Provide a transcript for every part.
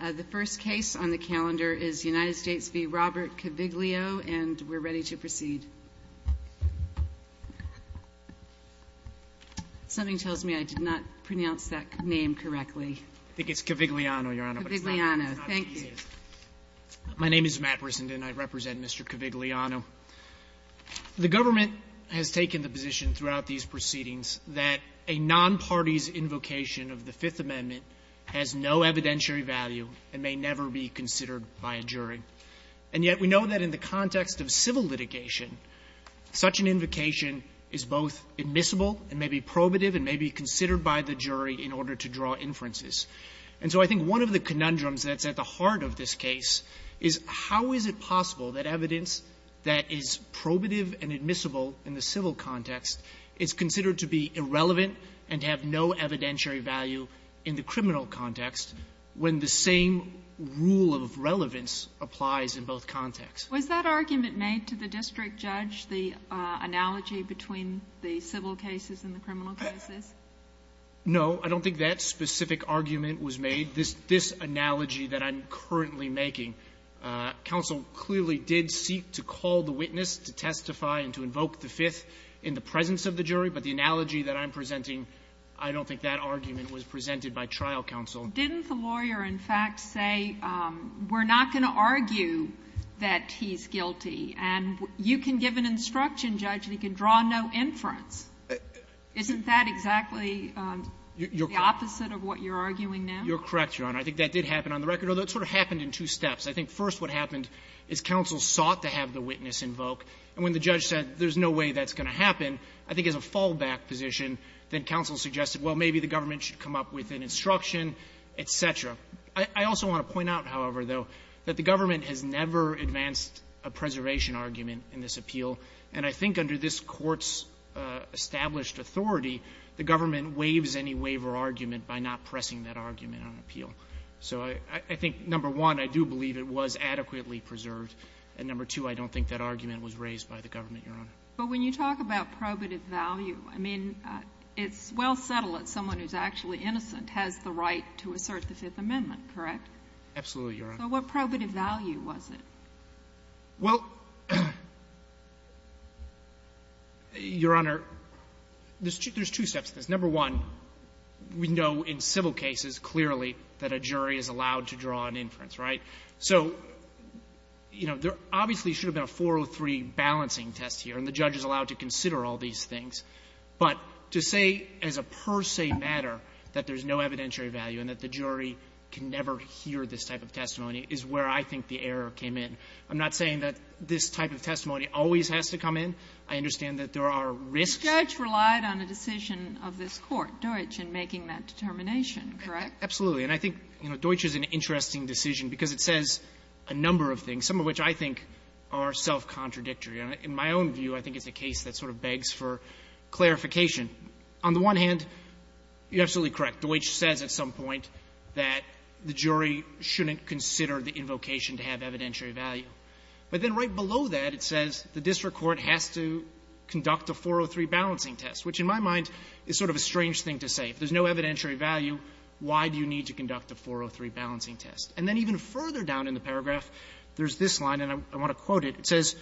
The first case on the calendar is United States v. Robert Cavigliano, and we're ready to proceed. Something tells me I did not pronounce that name correctly. I think it's Cavigliano, Your Honor. Cavigliano. Thank you. My name is Matt Brissenden, and I represent Mr. Cavigliano. The government has taken the position throughout these proceedings that a non-party's invocation of the Fifth Amendment has no evidentiary value and may never be considered by a jury. And yet we know that in the context of civil litigation, such an invocation is both admissible and may be probative and may be considered by the jury in order to draw inferences. And so I think one of the conundrums that's at the heart of this case is how is it possible that evidence that is probative and admissible in the civil context is considered to be irrelevant and to have no evidentiary value in the criminal context when the same rule of relevance applies in both contexts? Was that argument made to the district judge, the analogy between the civil cases and the criminal cases? No. I don't think that specific argument was made. This analogy that I'm currently making, counsel clearly did seek to call the witness to testify and to invoke the Fifth in the presence of the jury. But the analogy that I'm presenting, I don't think that argument was presented by trial counsel. Didn't the lawyer, in fact, say we're not going to argue that he's guilty and you can give an instruction, Judge, and he can draw no inference? Isn't that exactly the opposite of what you're arguing now? You're correct, Your Honor. I think that did happen on the record, although it sort of happened in two steps. I think first what happened is counsel sought to have the witness invoke, and when the judge said there's no way that's going to happen, I think as a fallback position, then counsel suggested, well, maybe the government should come up with an instruction, et cetera. I also want to point out, however, though, that the government has never advanced a preservation argument in this appeal. And I think under this Court's established authority, the government waives any waiver argument by not pressing that argument on appeal. So I think, number one, I do believe it was adequately preserved. And number two, I don't think that argument was raised by the government, Your Honor. But when you talk about probative value, I mean, it's well settled that someone who's actually innocent has the right to assert the Fifth Amendment, correct? Absolutely, Your Honor. So what probative value was it? Well, Your Honor, there's two steps to this. Number one, we know in civil cases clearly that a jury is allowed to draw an inference, right? So, you know, there obviously should have been a 403 balancing test here, and the judge is allowed to consider all these things. But to say as a per se matter that there's no evidentiary value and that the jury can never hear this type of testimony is where I think the error came in. I'm not saying that this type of testimony always has to come in. I understand that there are risks. But the judge relied on a decision of this Court, Deutsch, in making that determination, correct? Absolutely. And I think, you know, Deutsch is an interesting decision because it says a number of things, some of which I think are self-contradictory. In my own view, I think it's a case that sort of begs for clarification. On the one hand, you're absolutely correct. Deutsch says at some point that the jury shouldn't consider the invocation to have evidentiary value. But then right below that, it says the district court has to conduct a 403 balancing test, which in my mind is sort of a strange thing to say. If there's no evidentiary value, why do you need to conduct a 403 balancing test? And then even further down in the paragraph, there's this line, and I want to quote it. It says,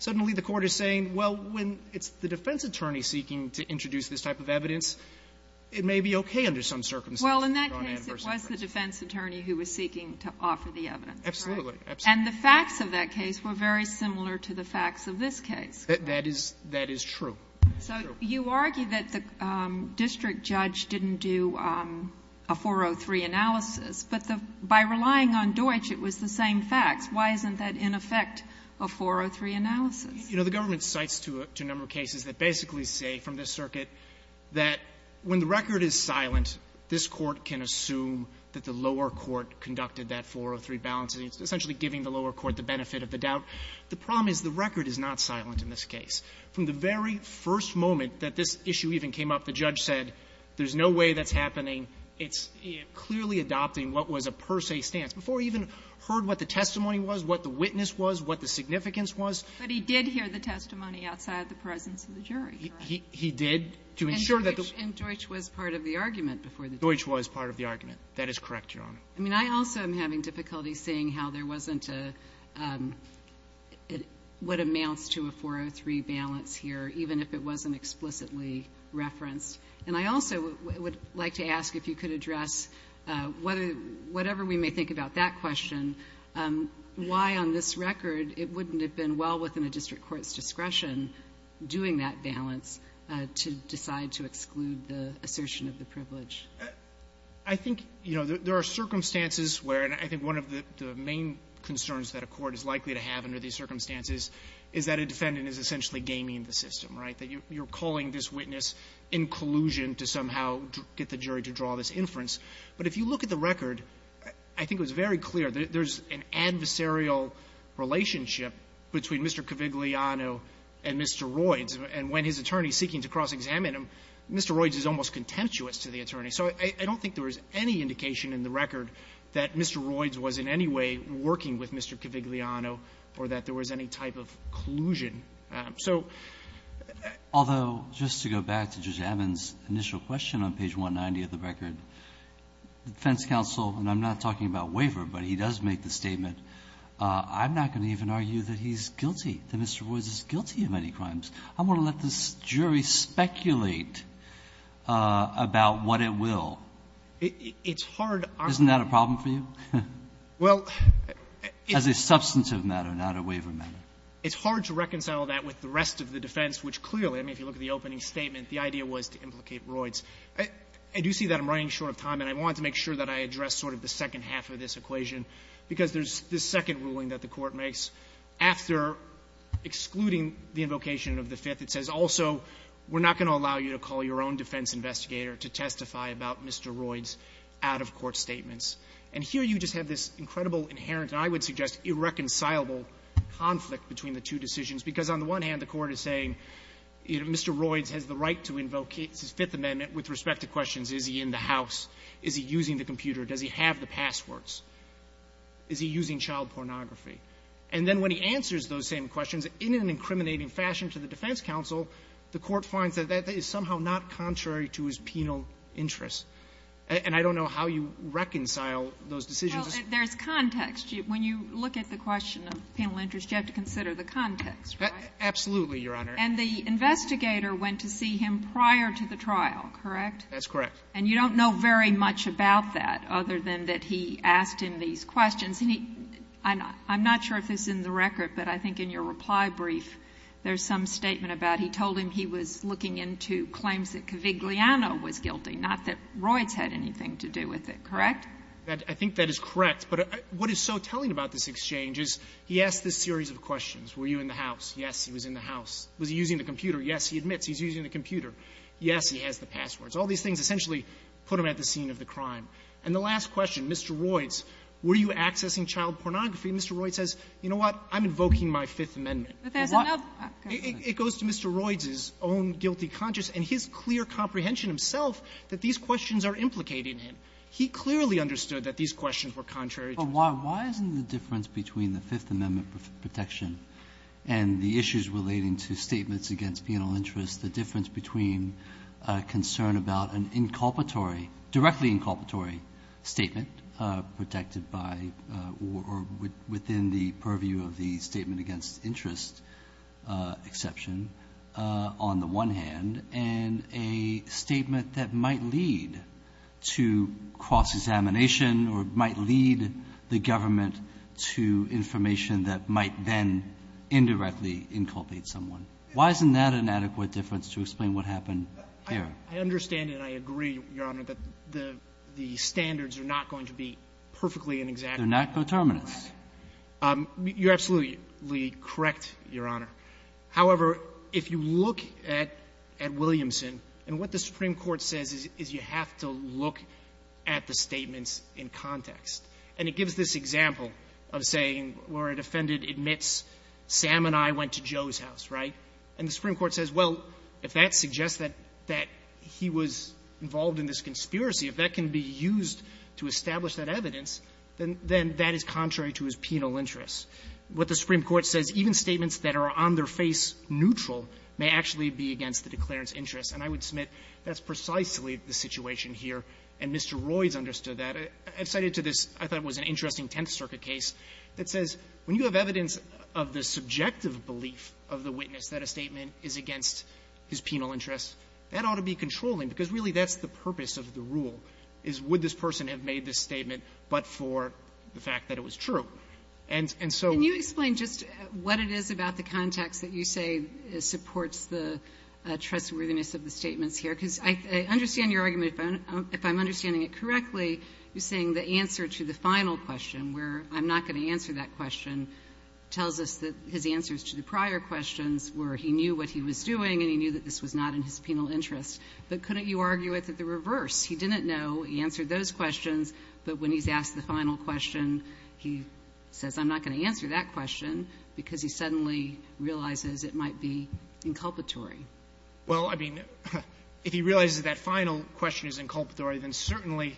So now suddenly the Court is saying, well, when it's the defense attorney seeking to introduce this type of evidence, it may be okay under some circumstances to draw an adverse inference. Well, in that case, it was the defense attorney who was seeking to offer the evidence, correct? Absolutely. Absolutely. That is true. So you argue that the district judge didn't do a 403 analysis, but by relying on Deutsch, it was the same facts. Why isn't that, in effect, a 403 analysis? You know, the government cites a number of cases that basically say from this circuit that when the record is silent, this Court can assume that the lower court conducted that 403 balancing, essentially giving the lower court the benefit of the doubt. The problem is the record is not silent in this case. From the very first moment that this issue even came up, the judge said there's no way that's happening. It's clearly adopting what was a per se stance. Before we even heard what the testimony was, what the witness was, what the significance was. But he did hear the testimony outside the presence of the jury, correct? He did, to ensure that the ---- And Deutsch was part of the argument before the jury. Deutsch was part of the argument. That is correct, Your Honor. I mean, I also am having difficulty seeing how there wasn't a, what amounts to a 403 balance here, even if it wasn't explicitly referenced. And I also would like to ask if you could address, whatever we may think about that question, why on this record it wouldn't have been well within a district court's discretion doing that balance to decide to exclude the assertion of the privilege. I think, you know, there are circumstances where, and I think one of the main concerns that a court is likely to have under these circumstances is that a defendant is essentially gaming the system, right? That you're calling this witness inclusion to somehow get the jury to draw this inference. But if you look at the record, I think it was very clear that there's an adversarial relationship between Mr. Cavigliano and Mr. Royds. And when his attorney is seeking to cross-examine him, Mr. Royds is almost contemptuous to the attorney. So I don't think there was any indication in the record that Mr. Royds was in any way working with Mr. Cavigliano or that there was any type of collusion. So the other question on page 190 of the record, the defense counsel, and I'm not talking about waiver, but he does make the statement, I'm not going to even argue that he's guilty, that Mr. Royds is guilty of any crimes. I want to let the jury speculate about what it will. Isn't that a problem for you? As a substantive matter, not a waiver matter. It's hard to reconcile that with the rest of the defense, which clearly, I mean, if you look at the opening statement, the idea was to implicate Royds. I do see that I'm running short of time, and I want to make sure that I address sort of the second half of this equation, because there's this second ruling that the Court makes after excluding the invocation of the Fifth. It says also we're not going to allow you to call your own defense investigator to testify about Mr. Royds' out-of-court statements. And here you just have this incredible, inherent, and I would suggest irreconcilable conflict between the two decisions, because on the one hand, the Court is saying, you know, Mr. Royds has the right to invoke his Fifth Amendment with respect to questions, is he in the house? Is he using the computer? Does he have the passwords? Is he using child pornography? And then when he answers those same questions, in an incriminating fashion to the defense counsel, the Court finds that that is somehow not contrary to his penal interests. And I don't know how you reconcile those decisions. Well, there's context. When you look at the question of penal interests, you have to consider the context, right? Absolutely, Your Honor. And the investigator went to see him prior to the trial, correct? That's correct. And you don't know very much about that, other than that he asked him these questions. Has any – I'm not sure if this is in the record, but I think in your reply brief there's some statement about he told him he was looking into claims that Cavigliano was guilty, not that Royds had anything to do with it, correct? I think that is correct. But what is so telling about this exchange is he asked this series of questions. Were you in the house? Yes, he was in the house. Was he using the computer? Yes, he admits he's using the computer. Yes, he has the passwords. All these things essentially put him at the scene of the crime. And the last question, Mr. Royds, were you accessing child pornography? Mr. Royds says, you know what, I'm invoking my Fifth Amendment. It goes to Mr. Royds' own guilty conscience and his clear comprehension himself that these questions are implicating him. He clearly understood that these questions were contrary to his claim. But why isn't the difference between the Fifth Amendment protection and the issues relating to statements against penal interests, the difference between a concern about an inculpatory, directly inculpatory statement protected by or within the purview of the statement against interest exception on the one hand and a statement that might lead to cross-examination or might lead the government to information that might then indirectly inculpate someone, why isn't that an adequate difference to explain what happened here? I understand and I agree, Your Honor, that the standards are not going to be perfectly and exactly correct. They're not coterminous. You're absolutely correct, Your Honor. However, if you look at Williamson and what the Supreme Court says is you have to look at the statements in context. And it gives this example of saying where a defendant admits Sam and I went to Joe's house, right? And the Supreme Court says, well, if that suggests that he was involved in this conspiracy, if that can be used to establish that evidence, then that is contrary to his penal interests. What the Supreme Court says, even statements that are on-their-face neutral may actually be against the declarant's interests. And I would submit that's precisely the situation here, and Mr. Royds understood that. I cited to this, I thought it was an interesting Tenth Circuit case, that says when you have evidence of the subjective belief of the witness that a statement is against his penal interests, that ought to be controlling, because really that's the purpose of the rule, is would this person have made this statement but for the fact that it was true. And so we need to explain just what it is about the context that you say supports the trustworthiness of the statements here, because I understand your argument, but if I'm understanding it correctly, you're saying the answer to the final question, where I'm not going to answer that question, tells us that his answers to the prior questions were he knew what he was doing and he knew that this was not in his penal interests. But couldn't you argue with it the reverse? He didn't know. He answered those questions. But when he's asked the final question, he says, I'm not going to answer that question because he suddenly realizes it might be inculpatory. Well, I mean, if he realizes that final question is inculpatory, then certainly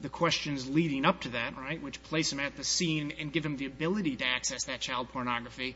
the questions leading up to that, right, which place him at the scene and give him the ability to access that child pornography,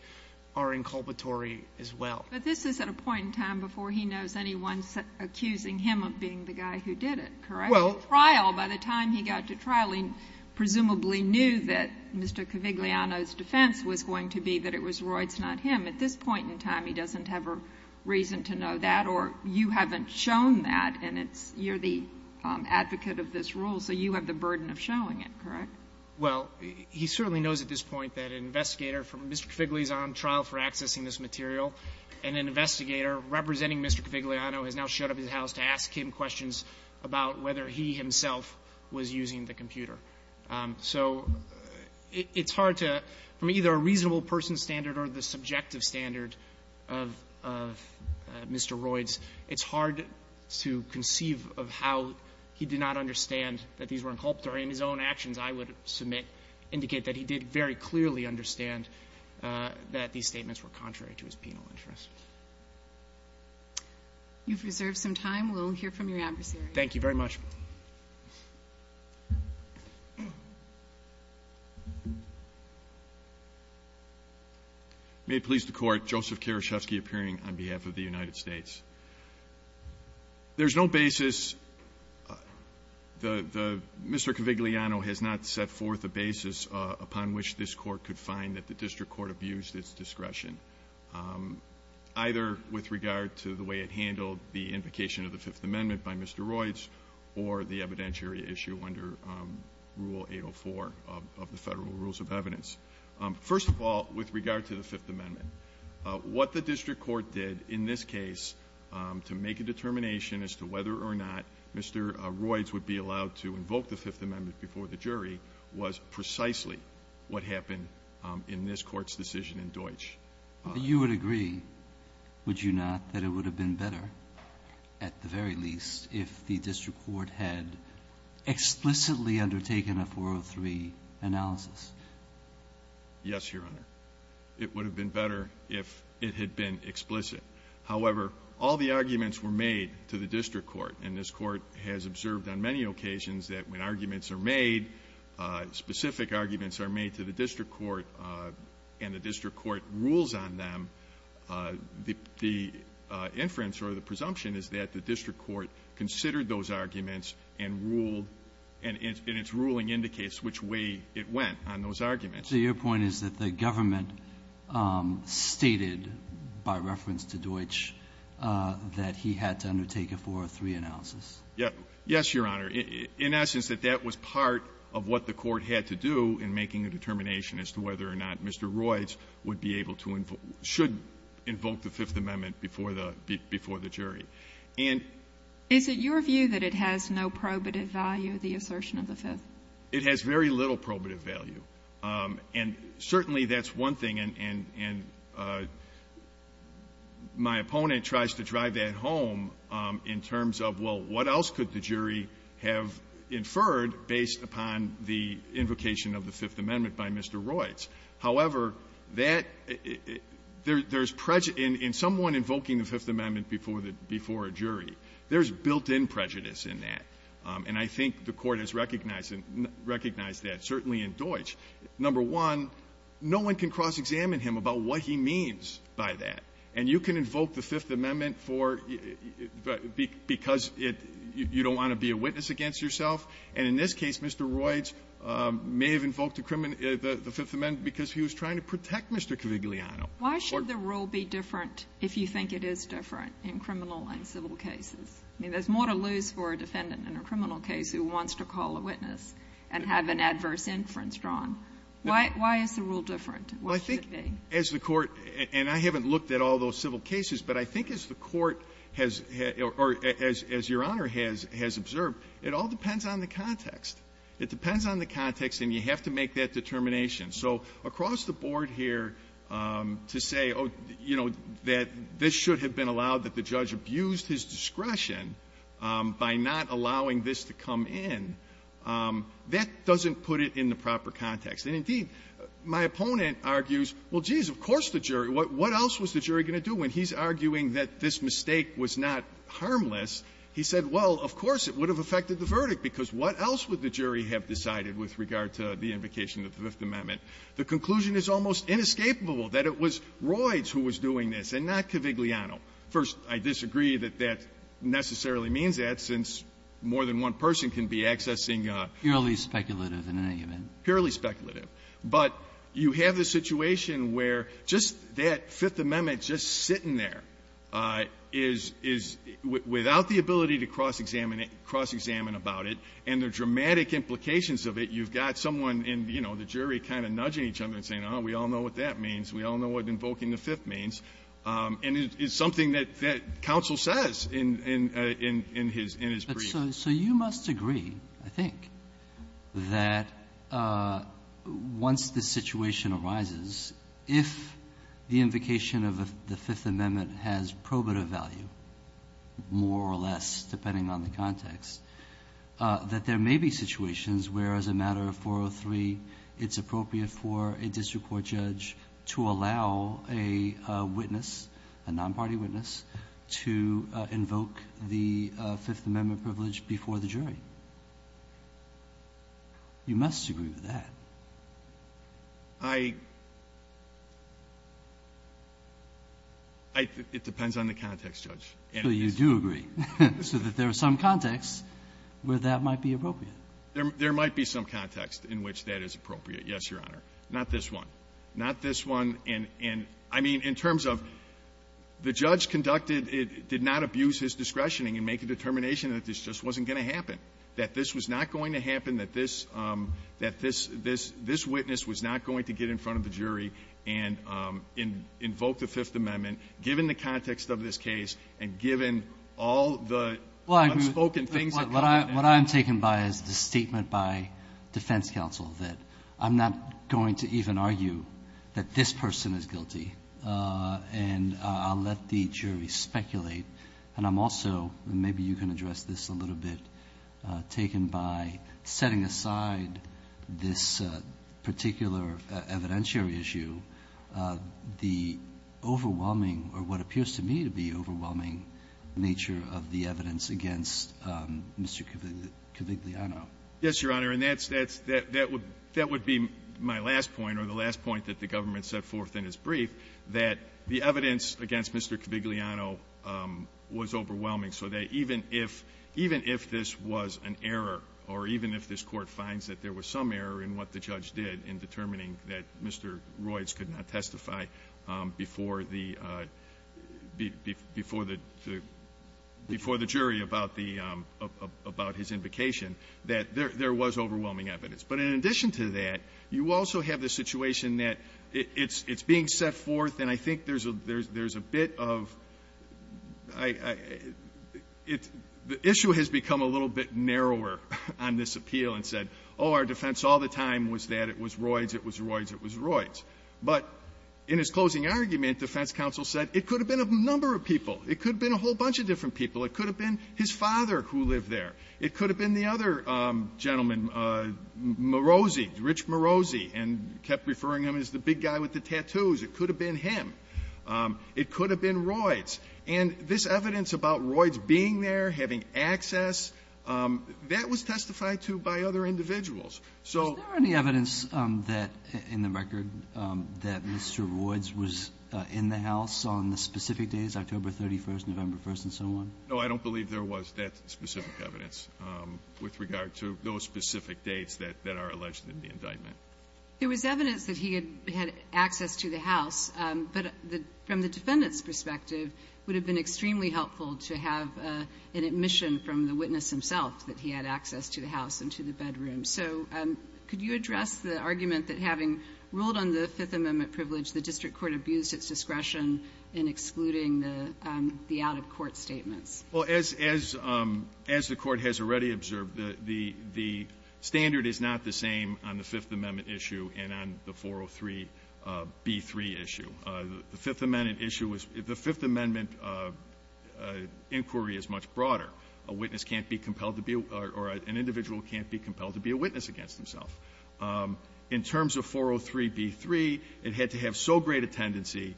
are inculpatory as well. But this is at a point in time before he knows anyone's accusing him of being the guy who did it, correct? Well — The trial, by the time he got to trial, he presumably knew that Mr. Cavigliano's defense was going to be that it was Reuts, not him. At this point in time, he doesn't have a reason to know that, or you haven't shown that, and it's — you're the advocate of this rule, so you have the burden of showing it, correct? Well, he certainly knows at this point that an investigator from — Mr. Cavigliano is on trial for accessing this material, and an investigator representing Mr. Cavigliano has now showed up at his house to ask him questions about whether he himself was using the computer. So it's hard to — from either a reasonable person standard or the subjective standard of — of Mr. Reuts, it's hard to conceive of how he did not understand that these were inculpatory. And his own actions, I would submit, indicate that he did very clearly understand that these statements were contrary to his penal interests. You've reserved some time. We'll hear from your adversary. Thank you very much. May it please the Court, Joseph Karaschewski appearing on behalf of the United States. There's no basis — the — Mr. Cavigliano has not set forth a basis upon which this Court could find that the district court abused its discretion, either with regard to the way it handled the invocation of the Fifth Amendment by Mr. Reuts or the evidentiary issue under Rule 804 of the Federal Rules of Evidence. First of all, with regard to the Fifth Amendment, what the district court did in this case to make a determination as to whether or not Mr. Reuts would be allowed to invoke the Fifth Amendment before the jury was precisely what happened in this Court's decision in Deutsch. You would agree, would you not, that it would have been better, at the very least, if the district court had explicitly undertaken a 403 analysis? Yes, Your Honor. It would have been better if it had been explicit. However, all the arguments were made to the district court, and this Court has observed on many occasions that when arguments are made, specific arguments are made to the district court, and the district court rules on them, the inference or the presumption is that the district court considered those arguments and ruled, and its ruling indicates which way it went on those arguments. So your point is that the government stated, by reference to Deutsch, that he had to undertake a 403 analysis? Yes, Your Honor. In essence, that that was part of what the court had to do in making a determination as to whether or not Mr. Reuts would be able to invoke, should invoke the Fifth Amendment before the jury. And… Is it your view that it has no probative value, the assertion of the Fifth? It has very little probative value. And certainly that's one thing, and my opponent tries to drive that home in terms of, well, what else could the jury have inferred based upon the invocation of the Fifth Amendment by Mr. Reuts? However, that… there's prejudice… in someone invoking the Fifth Amendment before a jury, there's built-in prejudice in that, and I think the Court has recognized that, certainly in Deutsch. Number one, no one can cross-examine him about what he means by that. And you can invoke the Fifth Amendment for… because it… you don't want to be a witness against yourself. And in this case, Mr. Reuts may have invoked the Fifth Amendment because he was trying to protect Mr. Cavigliano. Why should the rule be different if you think it is different in criminal and civil cases? I mean, there's more to lose for a defendant in a criminal case who wants to call a witness and have an adverse inference drawn. Why is the rule different? Well, I think as the Court… and I haven't looked at all those civil cases, but I think as the Court has… or as Your Honor has… has observed, it all depends on the context. It depends on the context, and you have to make that determination. So across the board here, to say, oh, you know, that this should have been allowed that the judge abused his discretion by not allowing this to come in, that doesn't put it in the proper context. And indeed, my opponent argues, well, geez, of course the jury… what else was the jury going to do when he's arguing that this mistake was not harmless? He said, well, of course it would have affected the verdict, because what else would the jury have decided with regard to the invocation of the Fifth Amendment? The conclusion is almost inescapable, that it was Royds who was doing this and not Cavigliano. First, I disagree that that necessarily means that, since more than one person can be accessing a… It's purely speculative in any event. Purely speculative. But you have the situation where just that Fifth Amendment just sitting there is… is without the ability to cross-examine it… cross-examine about it, and the dramatic implications of it, you've got someone in, you know, the jury kind of nudging each other and saying, oh, we all know what that means, we all know what invoking the Fifth means, and it's something that… that counsel says in… in his… in his brief. So… so you must agree, I think, that once this situation arises, if the invocation of the Fifth Amendment has probative value, more or less, depending on the context, that there may be situations where, as a matter of 403, it's appropriate for a district court judge to allow a witness, a non-party witness, to invoke the Fifth Amendment privilege before the jury. You must agree with that. I… I… it depends on the context, Judge. So you do agree, so that there are some contexts where that might be appropriate. There… there might be some context in which that is appropriate, yes, Your Honor. Not this one. Not this one. And… and I mean, in terms of the judge conducted… did not abuse his discretion and make a determination that this just wasn't going to happen, that this was not going to happen, that this… that this… this witness was not going to get in front of the jury and invoke the Fifth Amendment, given the context of this case and given all the unspoken things that come with it. What I'm taking by is the statement by defense counsel that I'm not going to even argue that this person is guilty, and I'll let the jury speculate. And I'm also… maybe you can address this a little bit, taken by setting aside this particular evidentiary issue, the overwhelming, or what appears to me to be overwhelming, nature of the evidence against Mr. Kavigliano. Yes, Your Honor. And that's… that would be my last point, or the last point that the government set forth in its brief, that the evidence against Mr. Kavigliano was overwhelming, so that even if… even if this was an error, or even if this Court finds that there was some error in what the judge did in determining that Mr. Royds could not testify before the jury about his invocation, that there was overwhelming evidence. But in addition to that, you also have the situation that it's being set forth, and I think there's a bit of… the issue has become a little bit narrower on this appeal and said, oh, our defense all the time was that it was Royds, it was Royds, it was Royds. And it also said it could have been a number of people. It could have been a whole bunch of different people. It could have been his father who lived there. It could have been the other gentleman, Morozzi, Rich Morozzi, and kept referring him as the big guy with the tattoos. It could have been him. It could have been Royds. And this evidence about Royds being there, having access, that was testified to by other individuals. So… Is there any evidence that, in the record, that Mr. Royds was in the house on the specific days, October 31st, November 1st, and so on? No, I don't believe there was that specific evidence with regard to those specific dates that are alleged in the indictment. There was evidence that he had access to the house, but from the defendant's perspective, it would have been extremely helpful to have an admission from the witness himself that he had access to the house and to the bedroom. So could you address the argument that, having ruled on the Fifth Amendment privilege, the district court abused its discretion in excluding the out-of-court statements? Well, as the Court has already observed, the standard is not the same on the Fifth Amendment issue and on the 403b3 issue. The Fifth Amendment issue was — the Fifth Amendment was that an individual can't be compelled to be a witness against himself. In terms of 403b3, it had to have so great a tendency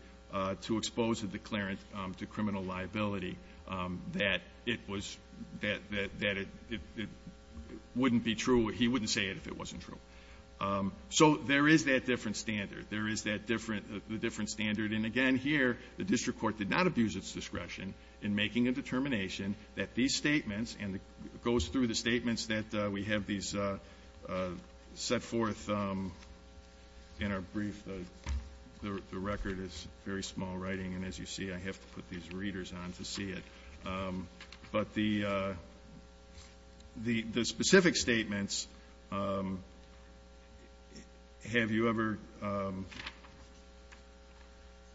to expose a declarant to criminal liability that it was — that it wouldn't be true — he wouldn't say it if it wasn't true. So there is that different standard. There is that different — the different standard. And again, here, the district court did not abuse its discretion in making a determination that these statements, and it goes through the statements that we have these set forth in our brief. The record is very small writing, and as you see, I have to put these readers on to see it. But the specific statements, have you ever —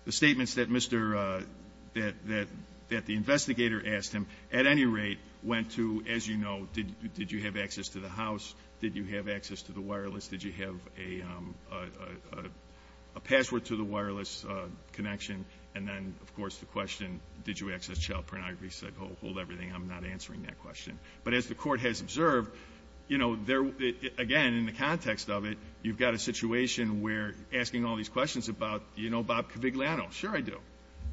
the statements that Mr. — that the investigator asked him, at any rate, went to, as you know, did you have access to the house, did you have access to the wireless, did you have a password to the wireless connection, and then, of course, the question, did you access child pornography, said, oh, hold everything, I'm not answering that question. But as the Court has observed, you know, there — again, in the context of it, you've got a situation where asking all these questions about, you know, Bob Cavigliano, sure I do.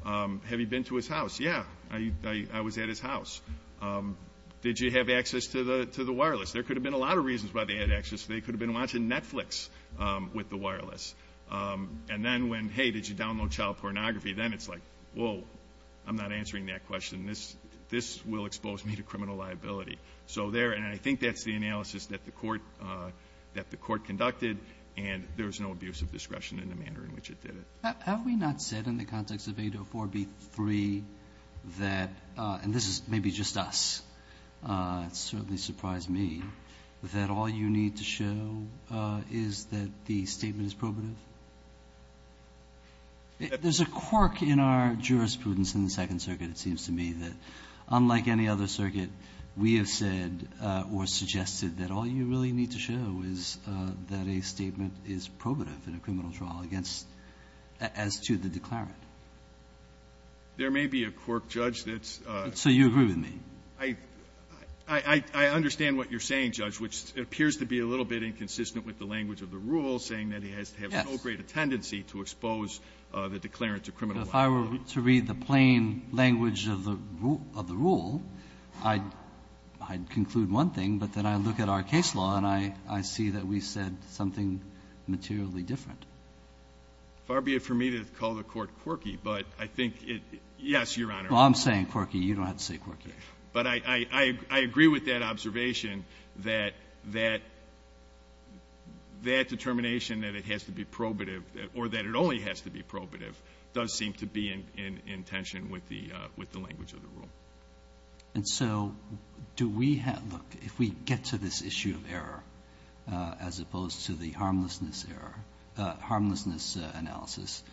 Have you been to his house? Yeah, I was at his house. Did you have access to the wireless? There could have been a lot of reasons why they had access. They could have been watching Netflix with the wireless. And then when, hey, did you download child pornography? Then it's like, whoa, I'm not answering that question. This will expose me to criminal liability. So there — and I think that's the analysis that the Court — that the Court conducted, and there was no abuse of discretion in the manner in which it did it. Have we not said in the context of 804b3 that — and this is maybe just us, it certainly surprised me — that all you need to show is that the statement is probative? There's a quirk in our jurisprudence in the Second Circuit, it seems to me, that unlike any other circuit, we have said or suggested that all you really need to show is that a statement is probative in a criminal trial against — as to the declarant. There may be a quirk, Judge, that's — So you agree with me? I — I understand what you're saying, Judge, which appears to be a little bit inconsistent with the language of the rule, saying that he has to have no greater tendency to expose the declarant to criminal liability. But if I were to read the plain language of the rule, I'd conclude one thing, but then I look at our case law and I see that we said something materially different. Far be it for me to call the Court quirky, but I think it — yes, Your Honor. Well, I'm saying quirky, you don't have to say quirky. But I agree with that observation that that determination that it has to be probative, or that it only has to be probative, does seem to be in tension with the language of the rule. And so do we have — look, if we get to this issue of error, as opposed to the harmlessness analysis,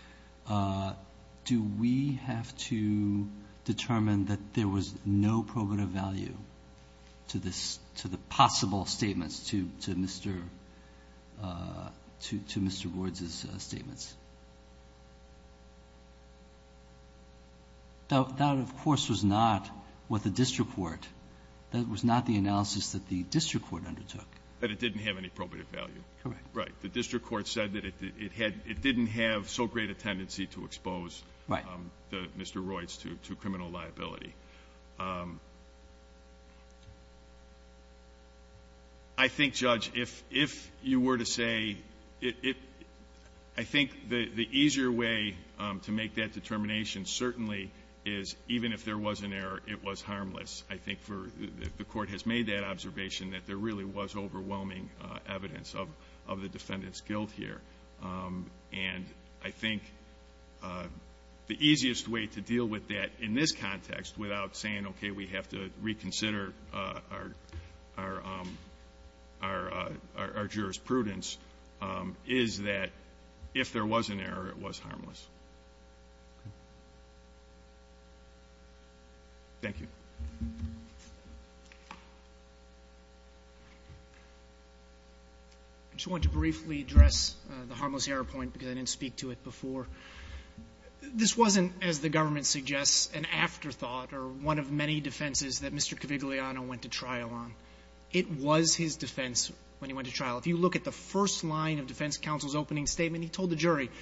do we have to determine that there was no probative value to this — to the possible statements to Mr. — to Mr. Boards' statements? That, of course, was not what the district court — that was not the analysis that the district court undertook. But it didn't have any probative value. Correct. Right. The district court said that it had — it didn't have so great a tendency to expose Mr. Royce to criminal liability. I think, Judge, if you were to say — I think the easier way to make that determination certainly is even if there was an error, it was harmless. I think for — the Court has made that observation that there really was the defendant's guilt here. And I think the easiest way to deal with that in this context, without saying, okay, we have to reconsider our jurisprudence, is that if there was an error, it was harmless. Thank you. I just wanted to briefly address the harmless error point because I didn't speak to it before. This wasn't, as the government suggests, an afterthought or one of many defenses that Mr. Cavigliano went to trial on. It was his defense when he went to trial. If you look at the first line of defense counsel's opening statement, he told the jury —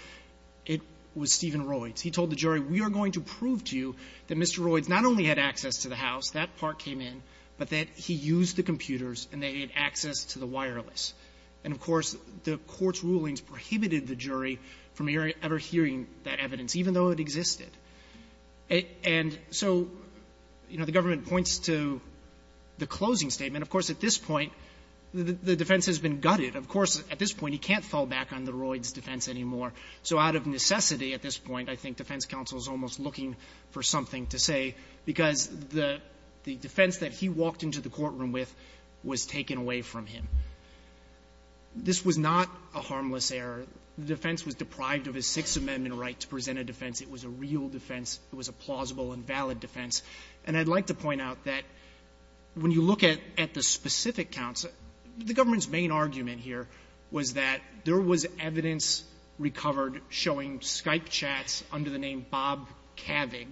it was Stephen Royce — he told the jury, we are going to prove to you that Mr. Royce not only had access to the house, that part came in, but that he used the computers and they had access to the wireless. And, of course, the Court's rulings prohibited the jury from ever hearing that evidence, even though it existed. And so, you know, the government points to the closing statement. Of course, at this point, the defense has been gutted. Of course, at this point, he can't fall back on the Royce defense anymore. So out of necessity at this point, I think defense counsel is almost looking for something to say, because the defense that he walked into the courtroom with was taken away from him. This was not a harmless error. The defense was deprived of his Sixth Amendment right to present a defense. It was a real defense. It was a plausible and valid defense. And I'd like to point out that when you look at the specific counsel, the government's main argument here was that there was evidence recovered showing Skype chats under the name of Bob Kavig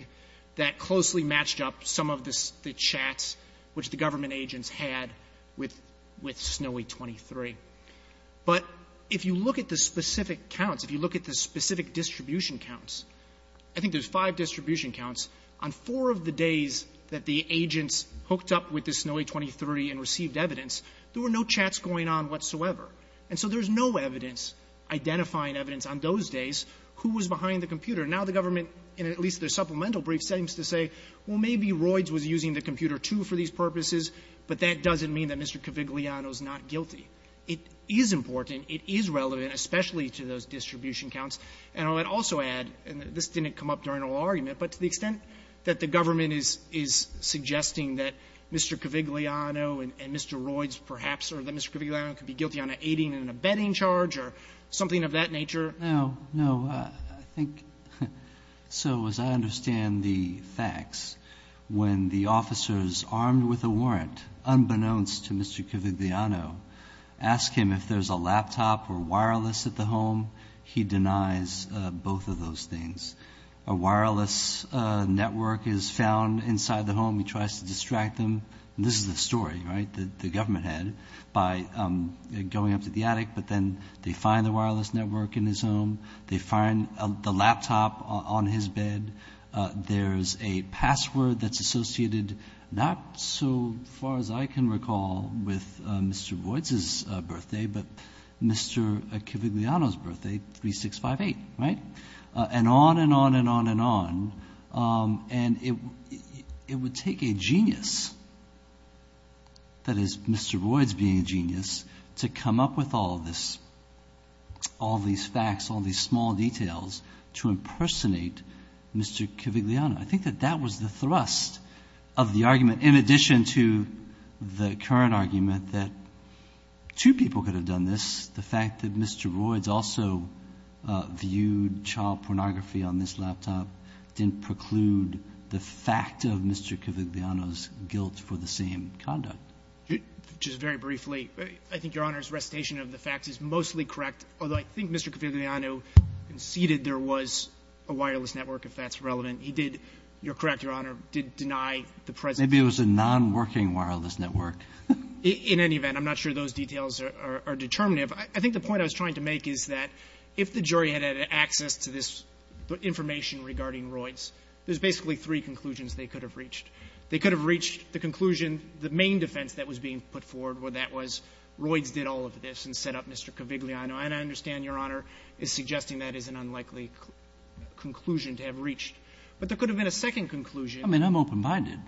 that closely matched up some of the chats which the government agents had with Snowy23. But if you look at the specific counts, if you look at the specific distribution counts, I think there's five distribution counts, on four of the days that the agents hooked up with the Snowy23 and received evidence, there were no chats going on whatsoever. And so there's no evidence identifying evidence on those days who was behind the computer. Now the government, in at least their supplemental brief, seems to say, well, maybe Royds was using the computer, too, for these purposes, but that doesn't mean that Mr. Kavigliano is not guilty. It is important. It is relevant, especially to those distribution counts. And I would also add, and this didn't come up during our argument, but to the extent that the government is suggesting that Mr. Kavigliano and Mr. Royds perhaps, or that Mr. Kavigliano could be guilty on an aiding and abetting charge or something of that nature. No, no, I think, so as I understand the facts, when the officers armed with a warrant, unbeknownst to Mr. Kavigliano, ask him if there's a laptop or wireless at the home, he denies both of those things. A wireless network is found inside the home, he tries to distract them, and this is the story, right, that the government had, by going up to the attic, but then they find the wireless network in his home, they find the laptop on his bed, there's a password that's associated, not so far as I can recall, with Mr. Royds' birthday, but Mr. Kavigliano's birthday, 3658, right? And on and on and on and on, and it would take a genius, that is Mr. Royds being a genius, to come up with all this, all these facts, all these small details, to impersonate Mr. Kavigliano. I think that that was the thrust of the argument, in addition to the current argument that two people could have done this, the fact that Mr. Royds also viewed child pornography on this laptop didn't preclude the fact of Mr. Kavigliano's guilt for the same conduct. Just very briefly, I think Your Honor's recitation of the facts is mostly correct, although I think Mr. Kavigliano conceded there was a wireless network, if that's relevant. He did, you're correct, Your Honor, did deny the presence of a wireless network. Maybe it was a nonworking wireless network. In any event, I'm not sure those details are determinative. I think the point I was trying to make is that if the jury had had access to this information regarding Royds, there's basically three conclusions they could have reached. They could have reached the conclusion, the main defense that was being put forward was that Royds did all of this and set up Mr. Kavigliano. And I understand Your Honor is suggesting that is an unlikely conclusion to have reached. But there could have been a second conclusion. Roberts. I mean, I'm open-minded.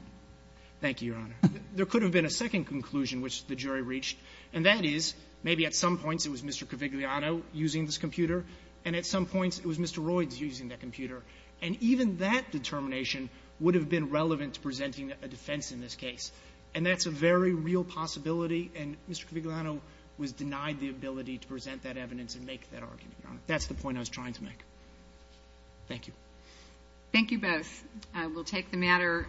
Thank you, Your Honor. There could have been a second conclusion which the jury reached, and that is, maybe at some points it was Mr. Kavigliano using this computer, and at some points it was Mr. Royds using that computer. And even that determination would have been relevant to presenting a defense in this case. And that's a very real possibility. And Mr. Kavigliano was denied the ability to present that evidence and make that argument. That's the point I was trying to make. Thank you. Thank you both. I will take the matter.